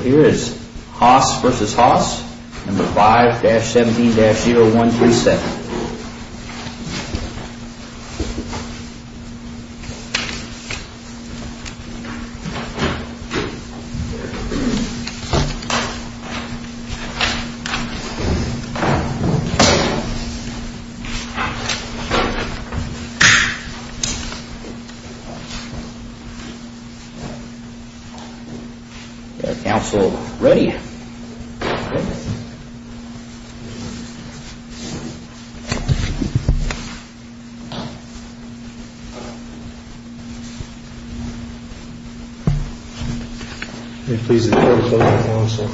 Here is Haas v. Haas, number 5-17-0127. Is the counsel ready? May it please the court to close the counsel.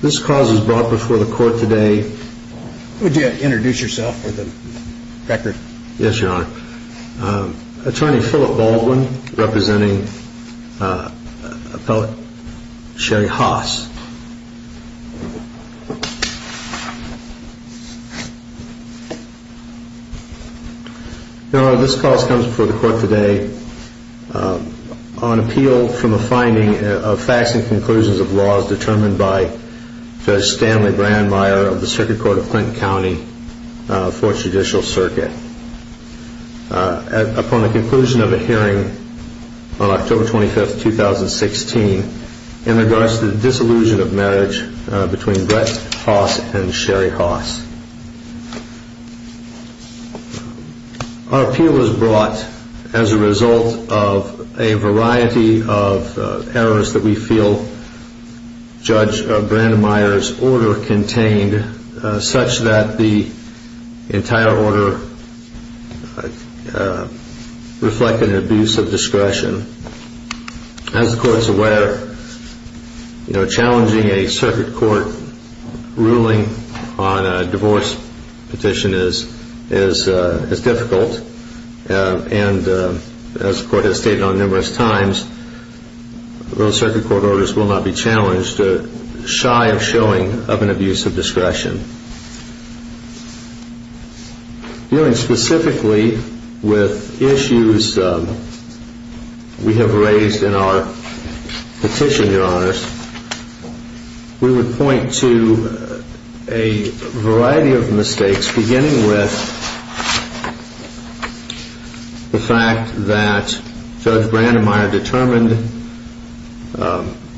This clause was brought before the court today. Would you introduce yourself for the record? Yes, Your Honor. Attorney Philip Baldwin, representing appellate Sherry Haas. Your Honor, this clause comes before the court today on appeal from a finding of facts and conclusions of laws determined by Judge Stanley Brandmeier of the Supreme Court. The Supreme Court of Clinton County, 4th Judicial Circuit. Upon the conclusion of a hearing on October 25, 2016, in regards to the disillusion of marriage between Brett Haas and Sherry Haas. Our appeal was brought as a result of a variety of errors that we feel Judge Brandmeier's order contained, such that the entire order reflected an abuse of discretion. As the court is aware, challenging a circuit court ruling on a divorce petition is difficult. And as the court has stated on numerous times, those circuit court orders will not be challenged, shy of showing of an abuse of discretion. Dealing specifically with issues we have raised in our petition, Your Honors, we would point to a variety of mistakes. Beginning with the fact that Judge Brandmeier determined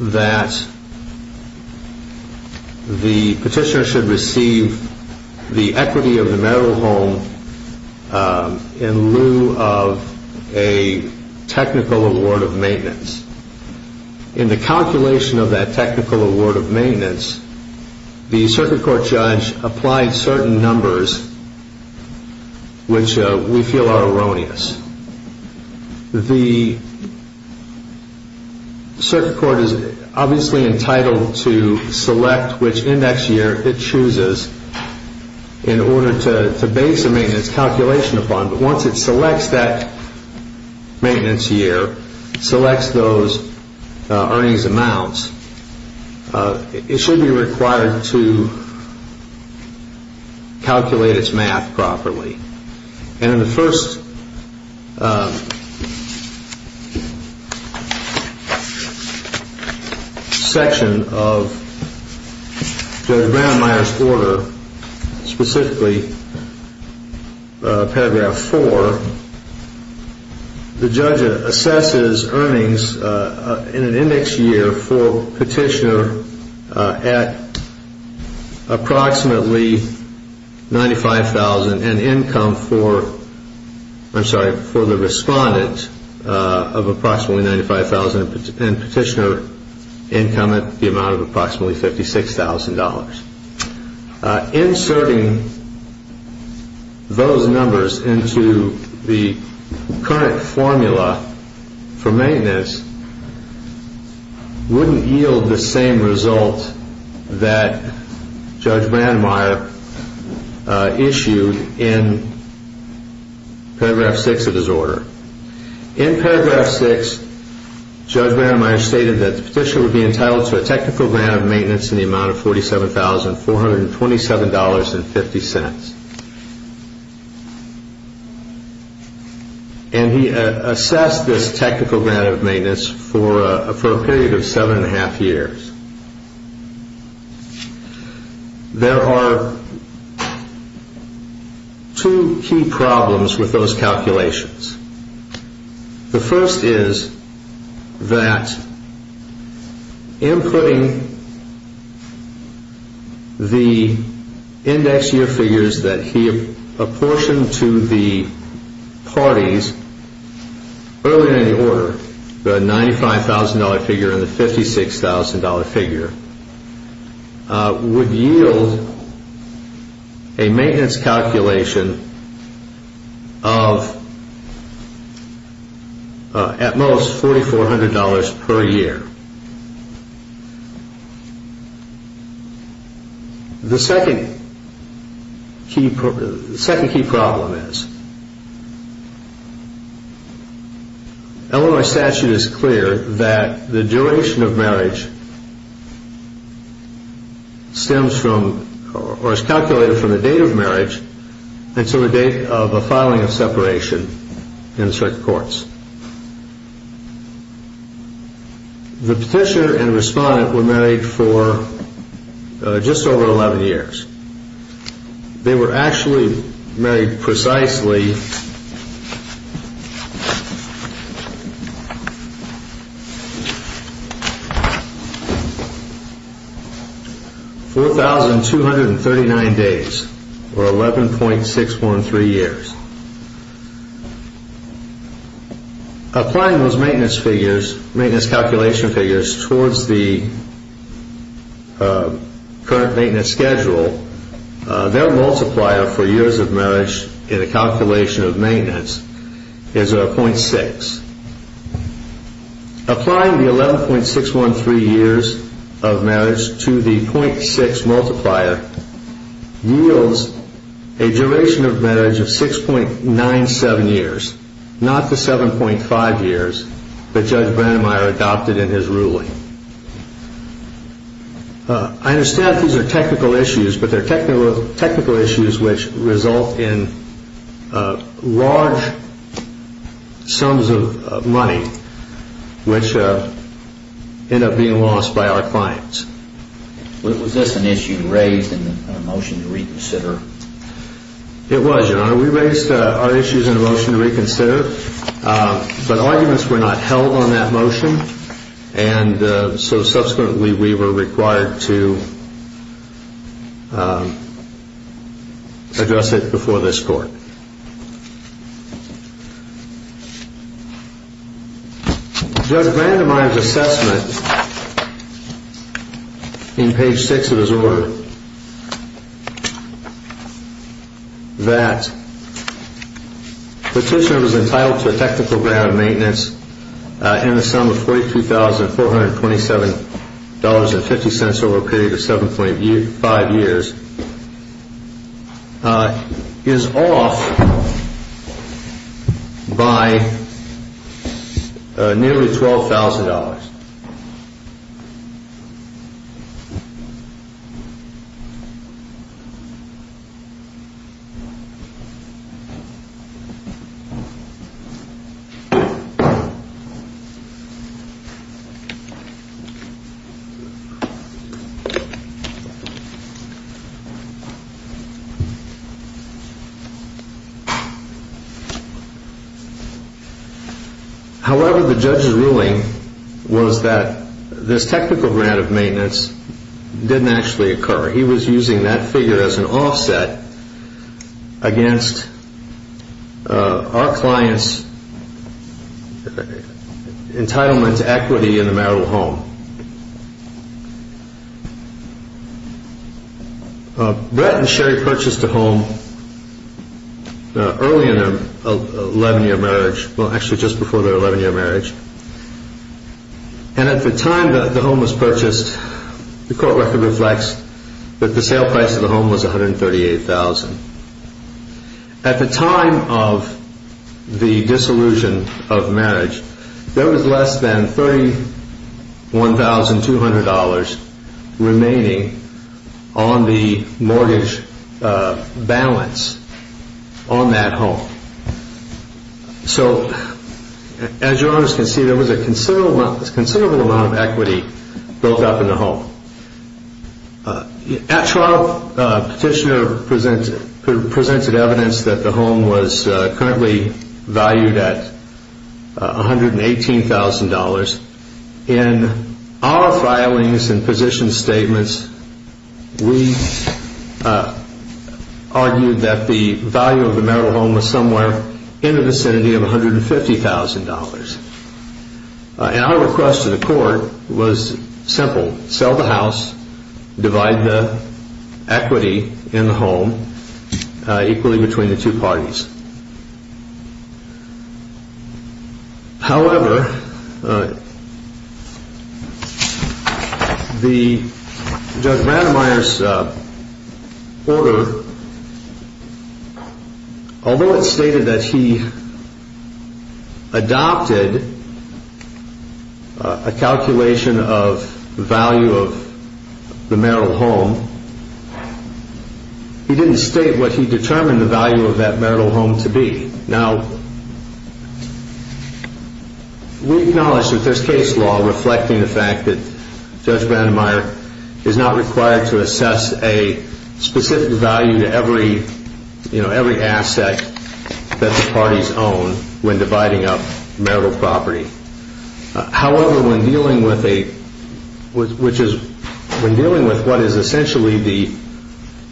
that the petitioner should receive the equity of the marital home in lieu of a technical award of maintenance. In the calculation of that technical award of maintenance, the circuit court judge applied certain numbers which we feel are erroneous. The circuit court is obviously entitled to select which index year it chooses in order to base a maintenance calculation upon. But once it selects that maintenance year, selects those earnings amounts, it should be required to calculate its math properly. In the first section of Judge Brandmeier's order, specifically paragraph 4, the judge assesses earnings in an index year for petitioner at approximately $95,000. And income for the respondent of approximately $95,000 and petitioner income at approximately $56,000. Inserting those numbers into the current formula for maintenance wouldn't yield the same result that Judge Brandmeier issued in paragraph 6 of his order. In paragraph 6, Judge Brandmeier stated that the petitioner would be entitled to a technical grant of maintenance in the amount of $47,427.50. And he assessed this technical grant of maintenance for a period of seven and a half years. There are two key problems with those calculations. The first is that inputting the index year figures that he apportioned to the parties earlier in the order, the $95,000 figure and the $56,000 figure, would yield a maintenance calculation of at most $4,400 per year. The second key problem is that Illinois statute is clear that the duration of marriage is calculated from the date of marriage until the date of the filing of separation in the circuit courts. The petitioner and respondent were married for just over 11 years. They were actually married precisely 4,239 days or 11.613 years. Applying those maintenance calculation figures towards the current maintenance schedule, their multiplier for years of marriage in a calculation of maintenance is .6. Applying the 11.613 years of marriage to the .6 multiplier yields a duration of marriage of 6.97 years, not the 7.5 years that Judge Brandmeier adopted in his ruling. I understand these are technical issues, but they are technical issues which result in large sums of money which end up being lost by our clients. Was this an issue raised in the motion to reconsider? It was, Your Honor. We raised our issues in the motion to reconsider, but arguments were not held on that motion. Subsequently, we were required to address it before this Court. Judge Brandmeier's assessment in page 6 of his order that the petitioner was entitled to a technical grant of maintenance in the sum of $42,427.50 over a period of 7.5 years is off by nearly $12,000. However, the judge's ruling was that this technical grant of maintenance didn't actually occur. He was using that figure as an offset against our client's entitlement to equity in the marital home. Brett and Sherry purchased a home early in their 11-year marriage, well, actually just before their 11-year marriage. At the time the home was purchased, the court record reflects that the sale price of the home was $138,000. At the time of the disillusion of marriage, there was less than $31,200 remaining on the mortgage balance on that home. So, as your Honors can see, there was a considerable amount of equity built up in the home. At trial, the petitioner presented evidence that the home was currently valued at $118,000. In our filings and position statements, we argued that the value of the marital home was somewhere in the vicinity of $150,000. Our request to the court was simple. Sell the house, divide the equity in the home equally between the two parties. However, Judge Vandermeer's order, although it stated that he adopted a calculation of the value of the marital home, he didn't state what he determined the value of that marital home to be. Now, we acknowledge that there's case law reflecting the fact that Judge Vandermeer is not required to assess a specific value to every asset that the parties own when dividing up marital property. However, when dealing with what is essentially the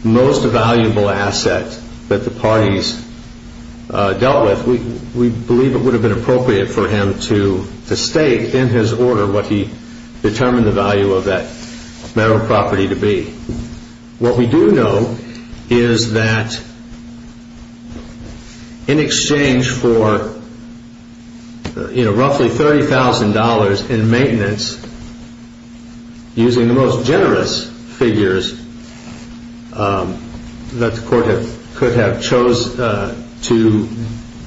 most valuable asset that the parties dealt with, we believe it would have been appropriate for him to state in his order what he determined the value of that marital property to be. What we do know is that in exchange for roughly $30,000 in maintenance, using the most generous figures that the court could have chosen to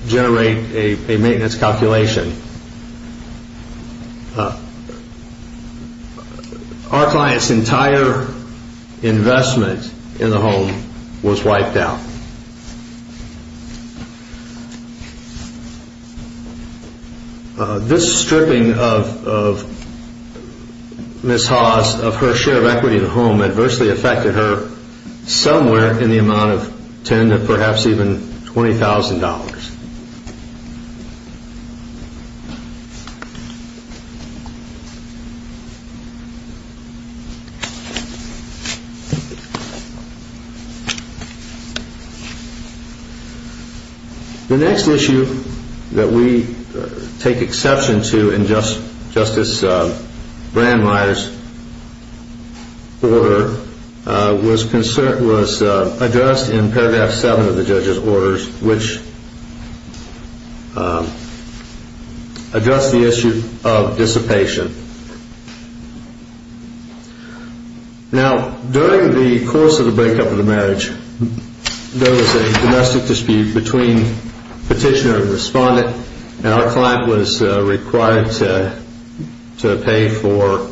generate a maintenance calculation, our client's entire investment in the home was wiped out. This stripping of Ms. Haas of her share of equity in the home adversely affected her somewhere in the amount of $10,000 to perhaps even $20,000. The next issue that we take exception to in Justice Brandmeier's order was addressed in paragraph 7 of the judge's order which addressed the issue of dissipation. Now, during the course of the breakup of the marriage, there was a domestic dispute between petitioner and respondent, and our client was required to pay for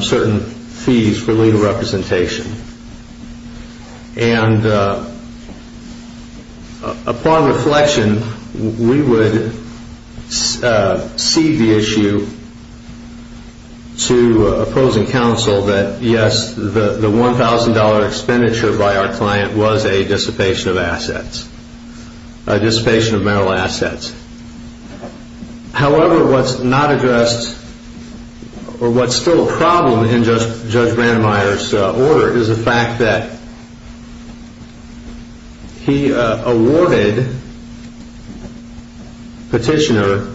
certain fees for legal representation. Upon reflection, we would cede the issue to opposing counsel that yes, the $1,000 expenditure by our client was a dissipation of assets, a dissipation of marital assets. However, what's not addressed or what's still a problem in Judge Brandmeier's order is the fact that he awarded petitioner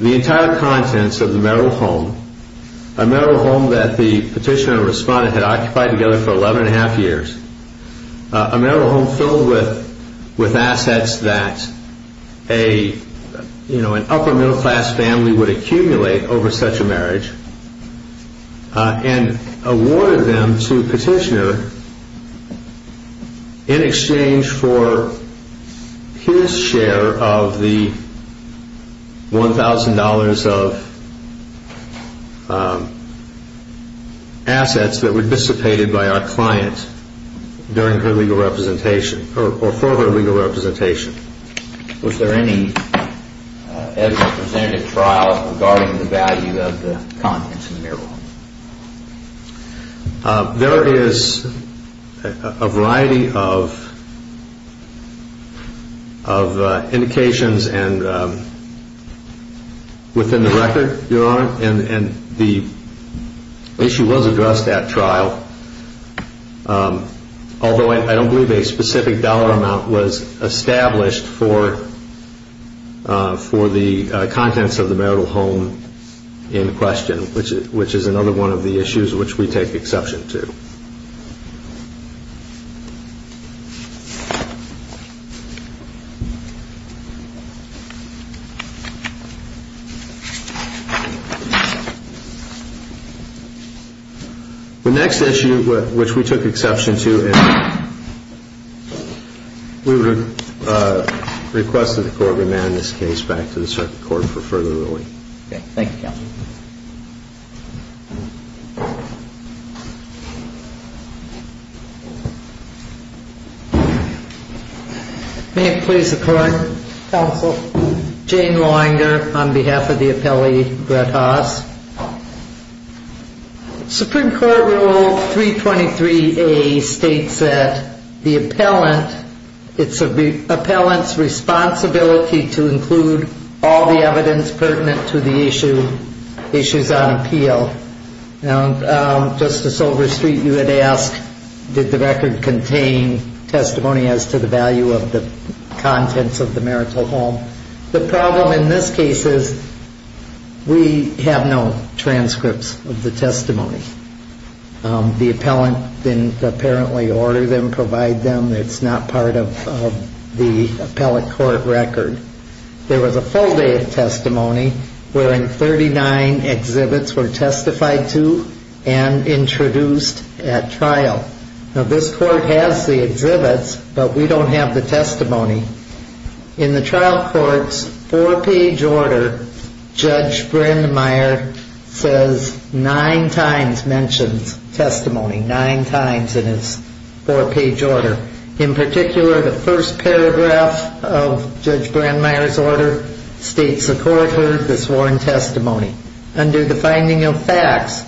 the entire contents of the marital home, a marital home that the petitioner and respondent had occupied together for 11 and a half years, a marital home filled with assets that an upper middle class family would accumulate over such a marriage, and awarded them to petitioner in exchange for his share of the $1,000 of assets that were dissipated by our client during her legal representation or for her legal representation. Was there any evidence presented at trial regarding the value of the contents of the marital home? There is a variety of indications within the record, Your Honor, and the issue was addressed at trial, although I don't believe a specific dollar amount was established for the contents of the marital home in question, which is another one of the issues which we take exception to. The next issue which we took exception to is we would request that the Court remand this case back to the circuit court for further ruling. Thank you, Counsel. May it please the Court? Counsel. Supreme Court Rule 323A states that the appellant, it's the appellant's responsibility to include all the evidence pertinent to the issues on appeal. Now, Justice Overstreet, you had asked, did the record contain testimony as to the value of the contents of the marital home? The problem in this case is we have no transcripts of the testimony. The appellant didn't apparently order them, provide them. It's not part of the appellate court record. There was a full day of testimony wherein 39 exhibits were testified to and introduced at trial. Now, this court has the exhibits, but we don't have the testimony. In the trial court's four-page order, Judge Brandmeier says nine times mentions testimony, nine times in his four-page order. In particular, the first paragraph of Judge Brandmeier's order states the court heard the sworn testimony. Under the finding of facts,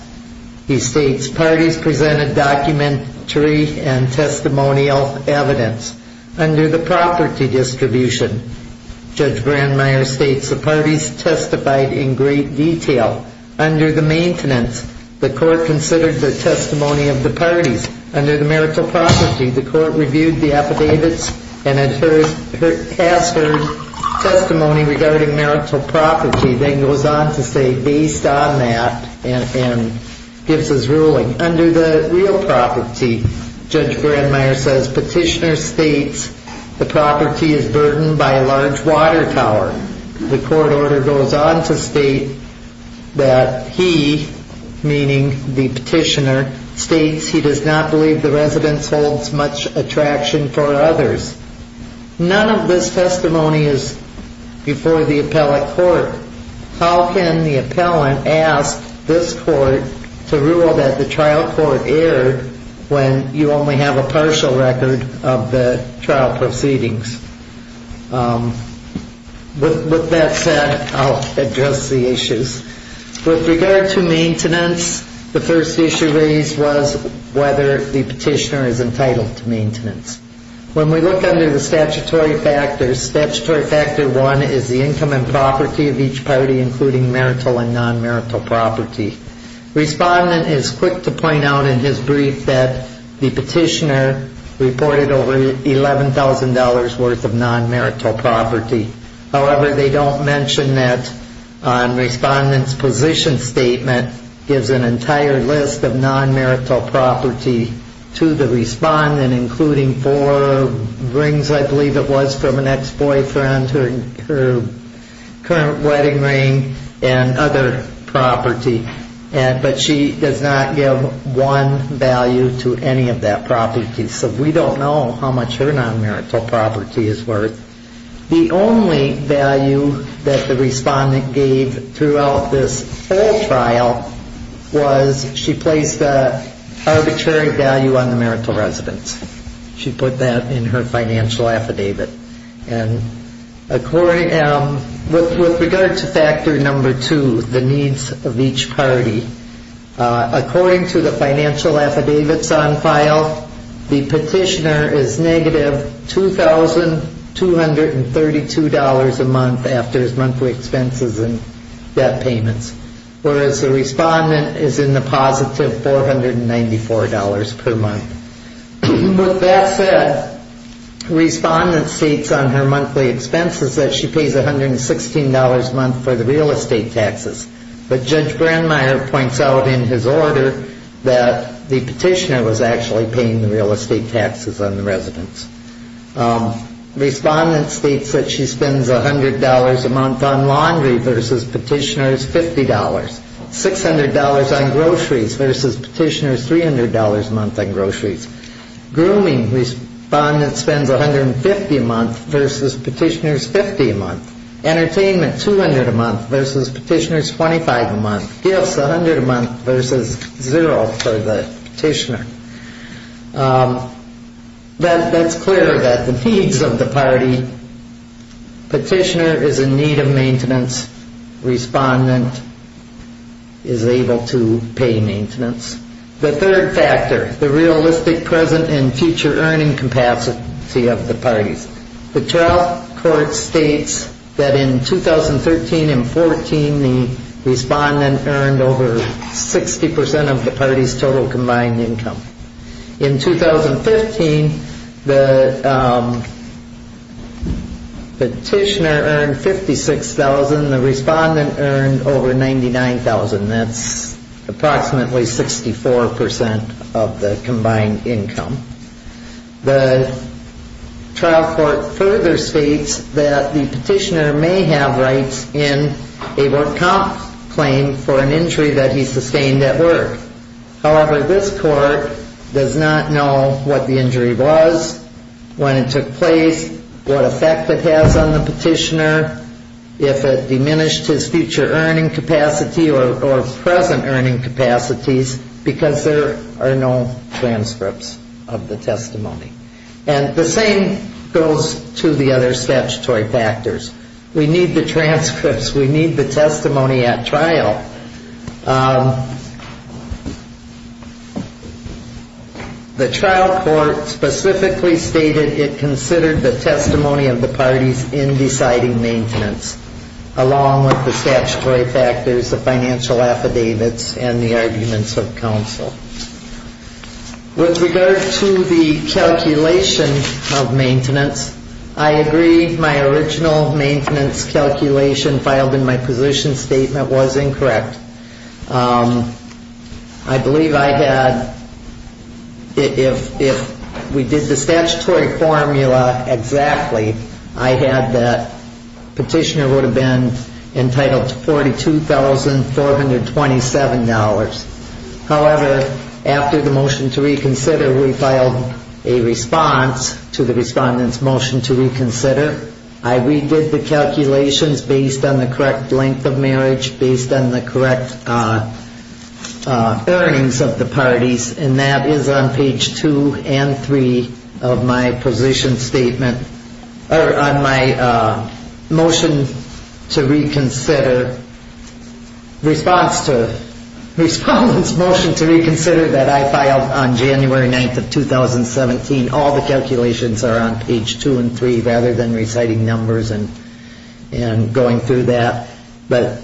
he states parties presented documentary and testimonial evidence. Under the property distribution, Judge Brandmeier states the parties testified in great detail. Under the maintenance, the court considered the testimony of the parties. Under the marital property, the court reviewed the affidavits and has heard testimony regarding marital property, then goes on to say based on that and gives his ruling. Under the real property, Judge Brandmeier says petitioner states the property is burdened by a large water tower. The court order goes on to state that he, meaning the petitioner, states he does not believe the residence holds much attraction for others. None of this testimony is before the appellate court. How can the appellant ask this court to rule that the trial court erred when you only have a partial record of the trial proceedings? With that said, I'll address the issues. With regard to maintenance, the first issue raised was whether the petitioner is entitled to maintenance. When we look under the statutory factors, statutory factor one is the income and property of each party including marital and non-marital property. Respondent is quick to point out in his brief that the petitioner reported over $11,000 worth of non-marital property. However, they don't mention that on respondent's position statement gives an entire list of non-marital property to the respondent, including four rings I believe it was from an ex-boyfriend, her current wedding ring and other property. But she does not give one value to any of that property. So we don't know how much her non-marital property is worth. The only value that the respondent gave throughout this whole trial was she placed an arbitrary value on the marital residence. She put that in her financial affidavit. With regard to factor number two, the needs of each party, according to the financial affidavits on file, the petitioner is negative $2,232 a month after his monthly expenses and debt payments. Whereas the respondent is in the positive $494 per month. With that said, respondent states on her monthly expenses that she pays $116 a month for the real estate taxes. But Judge Brandmeier points out in his order that the petitioner was actually paying the real estate taxes on the residence. Respondent states that she spends $100 a month on laundry versus petitioner's $50. $600 on groceries versus petitioner's $300 a month on groceries. Grooming, respondent spends $150 a month versus petitioner's $50 a month. Entertainment, $200 a month versus petitioner's $25 a month. Gifts, $100 a month versus $0 for the petitioner. That's clear that the needs of the party, petitioner is in need of maintenance. Respondent is able to pay maintenance. The third factor, the realistic present and future earning capacity of the parties. The trial court states that in 2013 and 14, the respondent earned over 60% of the party's total combined income. In 2015, the petitioner earned $56,000. The respondent earned over $99,000. That's approximately 64% of the combined income. The trial court further states that the petitioner may have rights in a work comp claim for an injury that he sustained at work. However, this court does not know what the injury was, when it took place, what effect it has on the petitioner, if it diminished his future earning capacity or present earning capacities, because there are no transcripts of the testimony. And the same goes to the other statutory factors. We need the transcripts. We need the testimony at trial. The trial court specifically stated it considered the testimony of the parties in deciding maintenance, along with the statutory factors, the financial affidavits, and the arguments of counsel. With regard to the calculation of maintenance, I agree my original maintenance calculation filed in my position statement was incorrect. I believe I had, if we did the statutory formula exactly, I had that petitioner would have been entitled to $42,427. However, after the motion to reconsider, we filed a response to the respondent's motion to reconsider. I redid the calculations based on the correct length of marriage, based on the correct earnings of the parties, and that is on page two and three of my position statement, or on my motion to reconsider, response to respondent's motion to reconsider that I filed on January 9th of 2017. All the calculations are on page two and three, rather than reciting numbers and going through that. But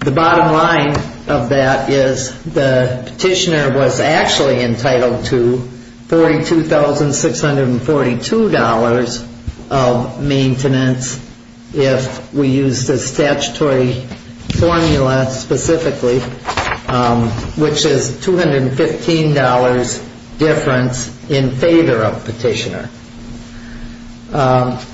the bottom line of that is the petitioner was actually entitled to $42,642 of maintenance if we used the statutory formula specifically, which is $215 difference in favor of petitioner.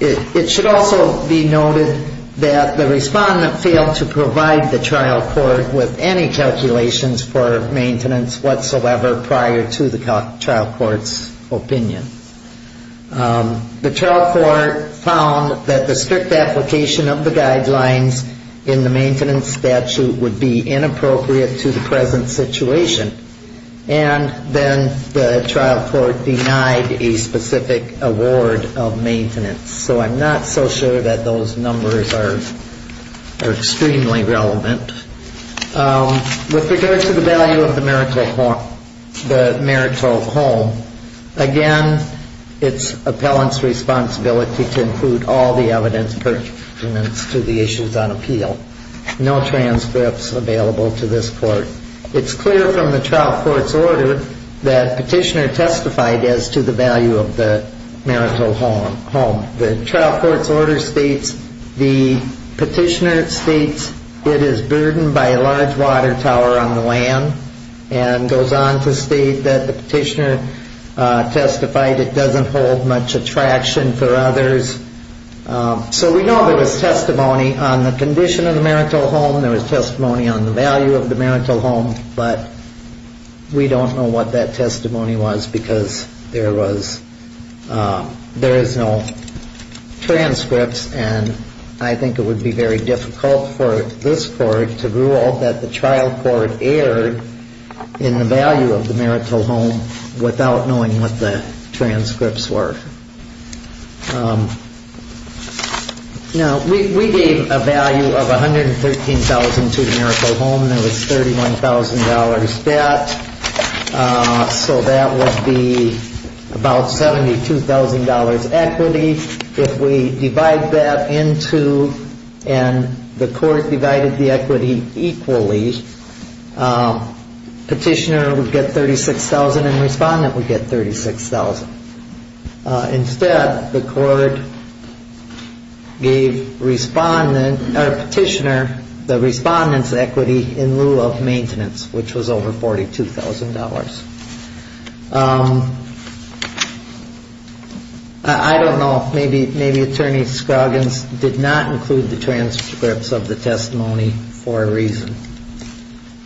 It should also be noted that the respondent failed to provide the trial court with any calculations for maintenance whatsoever prior to the trial court's opinion. The trial court found that the strict application of the guidelines in the maintenance statute would be inappropriate to the present situation. And then the trial court denied a specific award of maintenance. So I'm not so sure that those numbers are extremely relevant. With regards to the value of the marital home, again, it's appellant's responsibility to include all the evidence pertinent to the issues on appeal. No transcripts available to this court. It's clear from the trial court's order that petitioner testified as to the value of the marital home. The trial court's order states the petitioner states it is burdened by a large water tower on the land and goes on to state that the petitioner testified it doesn't hold much attraction for others. So we know there was testimony on the condition of the marital home. There was testimony on the value of the marital home. But we don't know what that testimony was because there was, there is no transcripts. And I think it would be very difficult for this court to rule that the trial court erred in the value of the marital home without knowing what the transcripts were. Now, we gave a value of $113,000 to the marital home. There was $31,000 debt. So that would be about $72,000 equity. If we divide that into, and the court divided the equity equally, petitioner would get $36,000 and respondent would get $36,000. Instead, the court gave respondent, or petitioner, the respondent's equity in lieu of maintenance, which was over $42,000. I don't know. Maybe Attorney Scroggins did not include the transcripts of the testimony for a reason.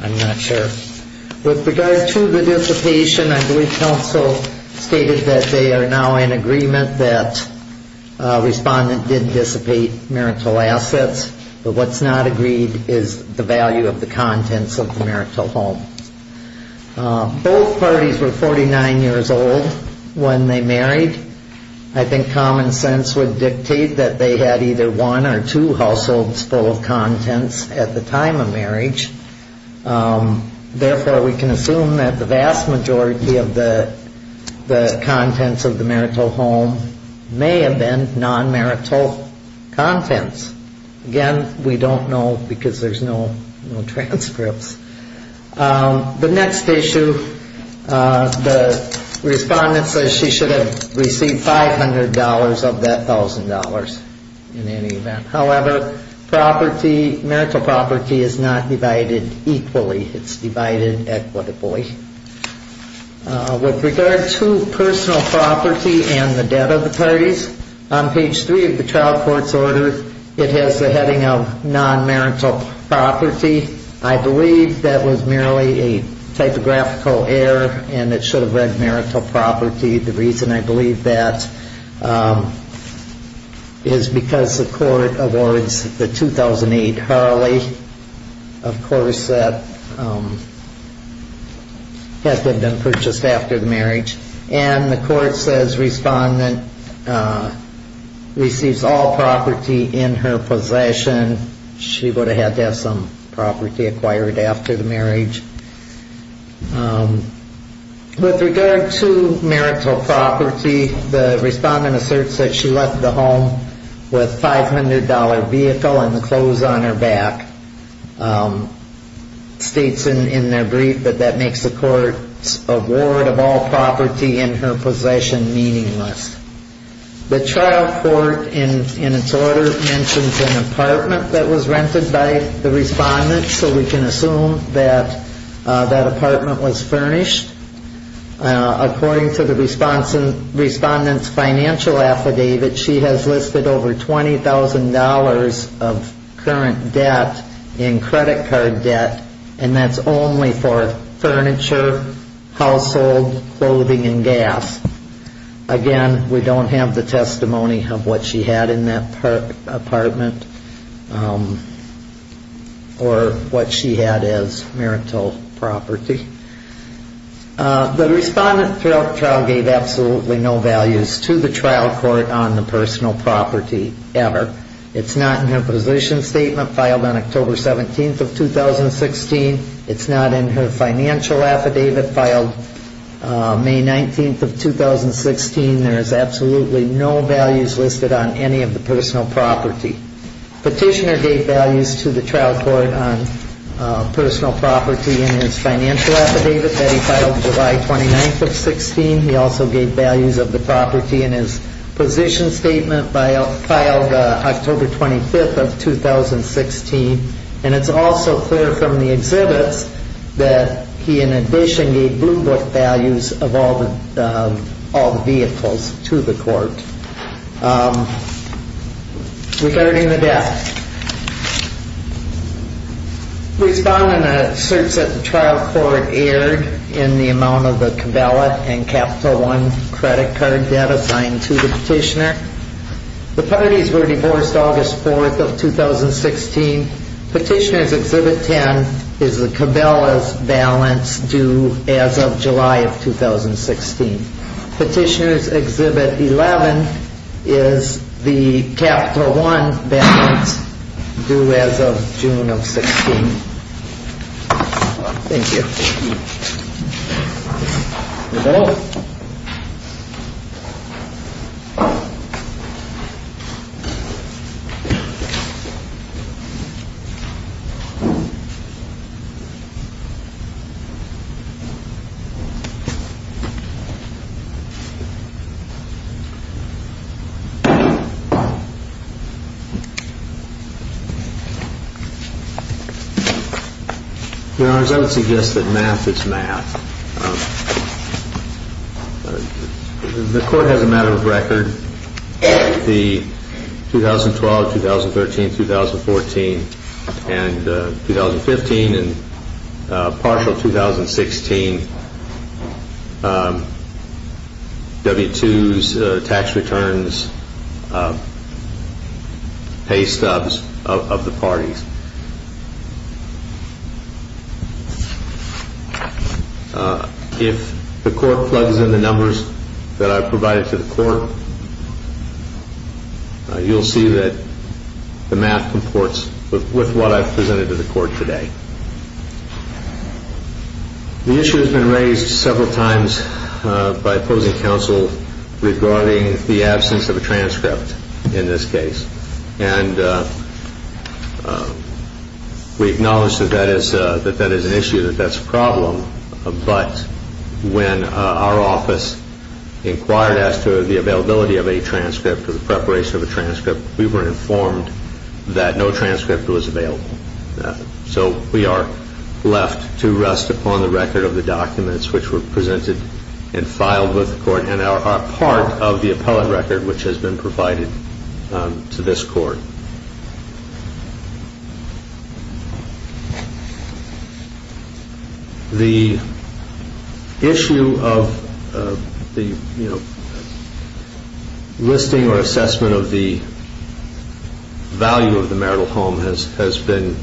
I'm not sure. With regard to the dissipation, I believe counsel stated that they are now in agreement that respondent did dissipate marital assets. But what's not agreed is the value of the contents of the marital home. Both parties were 49 years old when they married. I think common sense would dictate that they had either one or two households full of contents at the time of marriage. Therefore, we can assume that the vast majority of the contents of the marital home may have been non-marital contents. Again, we don't know because there's no transcripts. The next issue, the respondent says she should have received $500 of that $1,000 in any event. However, marital property is not divided equally. It's divided equitably. With regard to personal property and the debt of the parties, on page 3 of the trial court's order, it has the heading of non-marital property. I believe that was merely a typographical error and it should have read marital property. The reason I believe that is because the court awards the 2008 Harley, of course, that had been purchased after the marriage. And the court says respondent receives all property in her possession. She would have had to have some property acquired after the marriage. With regard to marital property, the respondent asserts that she left the home with $500 vehicle and the clothes on her back. States in their brief that that makes the court's award of all property in her possession meaningless. The trial court in its order mentions an apartment that was rented by the respondent. So we can assume that that apartment was furnished. According to the respondent's financial affidavit, she has listed over $20,000 of current debt in credit card debt. And that's only for furniture, household, clothing, and gas. Again, we don't have the testimony of what she had in that apartment or what she had as marital property. The respondent's trial gave absolutely no values to the trial court on the personal property ever. It's not in her position statement filed on October 17th of 2016. It's not in her financial affidavit filed May 19th of 2016. There is absolutely no values listed on any of the personal property. Petitioner gave values to the trial court on personal property in his financial affidavit that he filed July 29th of 2016. He also gave values of the property in his position statement filed October 25th of 2016. And it's also clear from the exhibits that he in addition gave blue book values of all the vehicles to the court. Regarding the debt, the respondent asserts that the trial court erred in the amount of the cabalot and capital one credit card debt assigned to the petitioner. The parties were divorced August 4th of 2016. Petitioner's exhibit 10 is the cabalot balance due as of July of 2016. Petitioner's exhibit 11 is the capital one balance due as of June of 16. Thank you. Thank you. Thank you. Thank you. Your Honor, as I would suggest that math is math, the court has a matter of record with the 2012, 2013, 2014, and 2015, and partial 2016 W-2s, tax returns, pay stubs of the parties. If the court plugs in the numbers that I've provided to the court, you'll see that the math comports with what I've presented to the court today. The issue has been raised several times by opposing counsel regarding the absence of a transcript in this case. And we acknowledge that that is an issue, that that's a problem, but when our office inquired as to the availability of a transcript, the preparation of a transcript, we were informed that no transcript was available. So we are left to rest upon the record of the documents which were presented and filed with the court and are part of the appellate record which has been provided to this court. The issue of the listing or assessment of the value of the marital home has been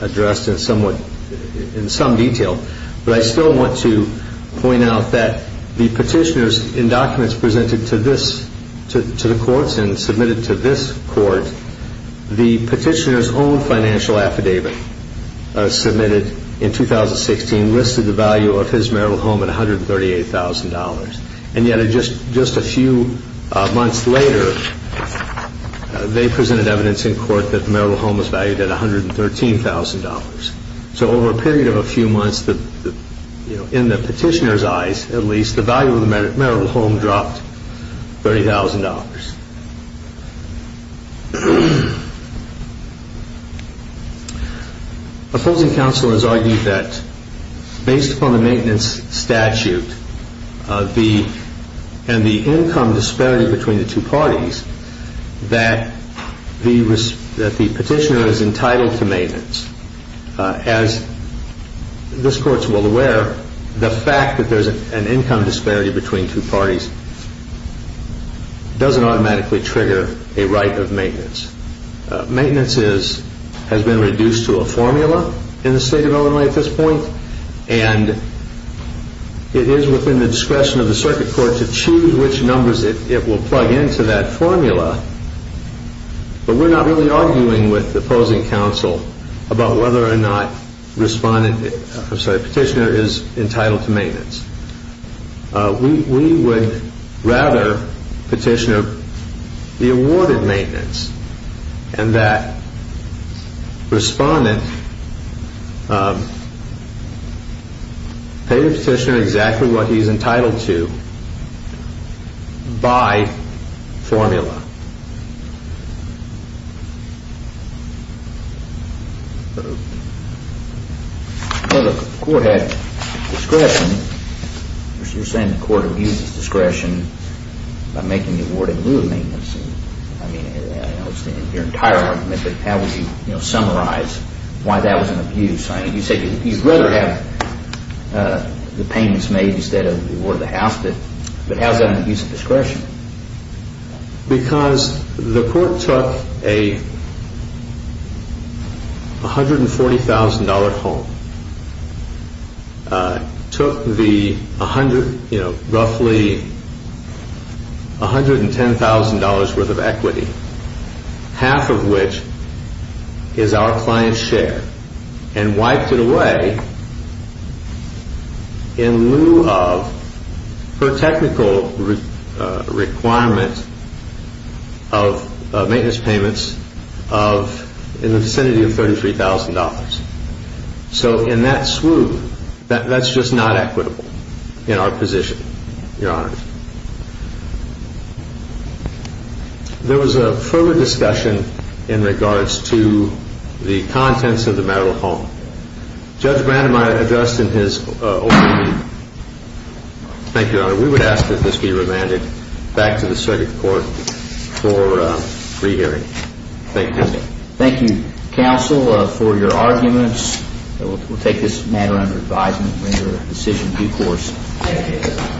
addressed in some detail, but I still want to point out that the petitioners in documents presented to the courts and submitted to this court, the petitioner's own financial affidavit submitted in 2016 listed the value of his marital home at $138,000. And yet, just a few months later, they presented evidence in court that the marital home was valued at $113,000. So over a period of a few months, in the petitioner's eyes at least, the value of the marital home dropped $30,000. Opposing counsel has argued that based upon the maintenance statute and the income disparity between the two parties, that the petitioner is entitled to maintenance. As this court is well aware, the fact that there is an income disparity between two parties doesn't automatically trigger a right of maintenance. Maintenance has been reduced to a formula in the state of Illinois at this point, and it is within the discretion of the circuit court to choose which numbers it will plug into that formula. But we're not really arguing with opposing counsel about whether or not the petitioner is entitled to maintenance. We would rather petitioner be awarded maintenance and that respondent pay the petitioner exactly what he's entitled to by formula. Well, the court had discretion. You're saying the court abuses discretion by making the award in lieu of maintenance. I understand your entire argument, but how would you summarize why that was an abuse? You said you'd rather have the payments made instead of the award of the house, but how is that an abuse of discretion? Because the court took a $140,000 home, took the roughly $110,000 worth of equity, half of which is our client's share, and wiped it away in lieu of per technical requirement of maintenance payments in the vicinity of $33,000. So in that swoop, that's just not equitable in our position, Your Honors. There was a further discussion in regards to the contents of the matter at home. Judge Brandom, I addressed in his opening reading. Thank you, Your Honor. We would ask that this be remanded back to the circuit court for re-hearing. Thank you. Thank you, counsel, for your arguments. We'll take this matter under advisement and render a decision due course. Thank you.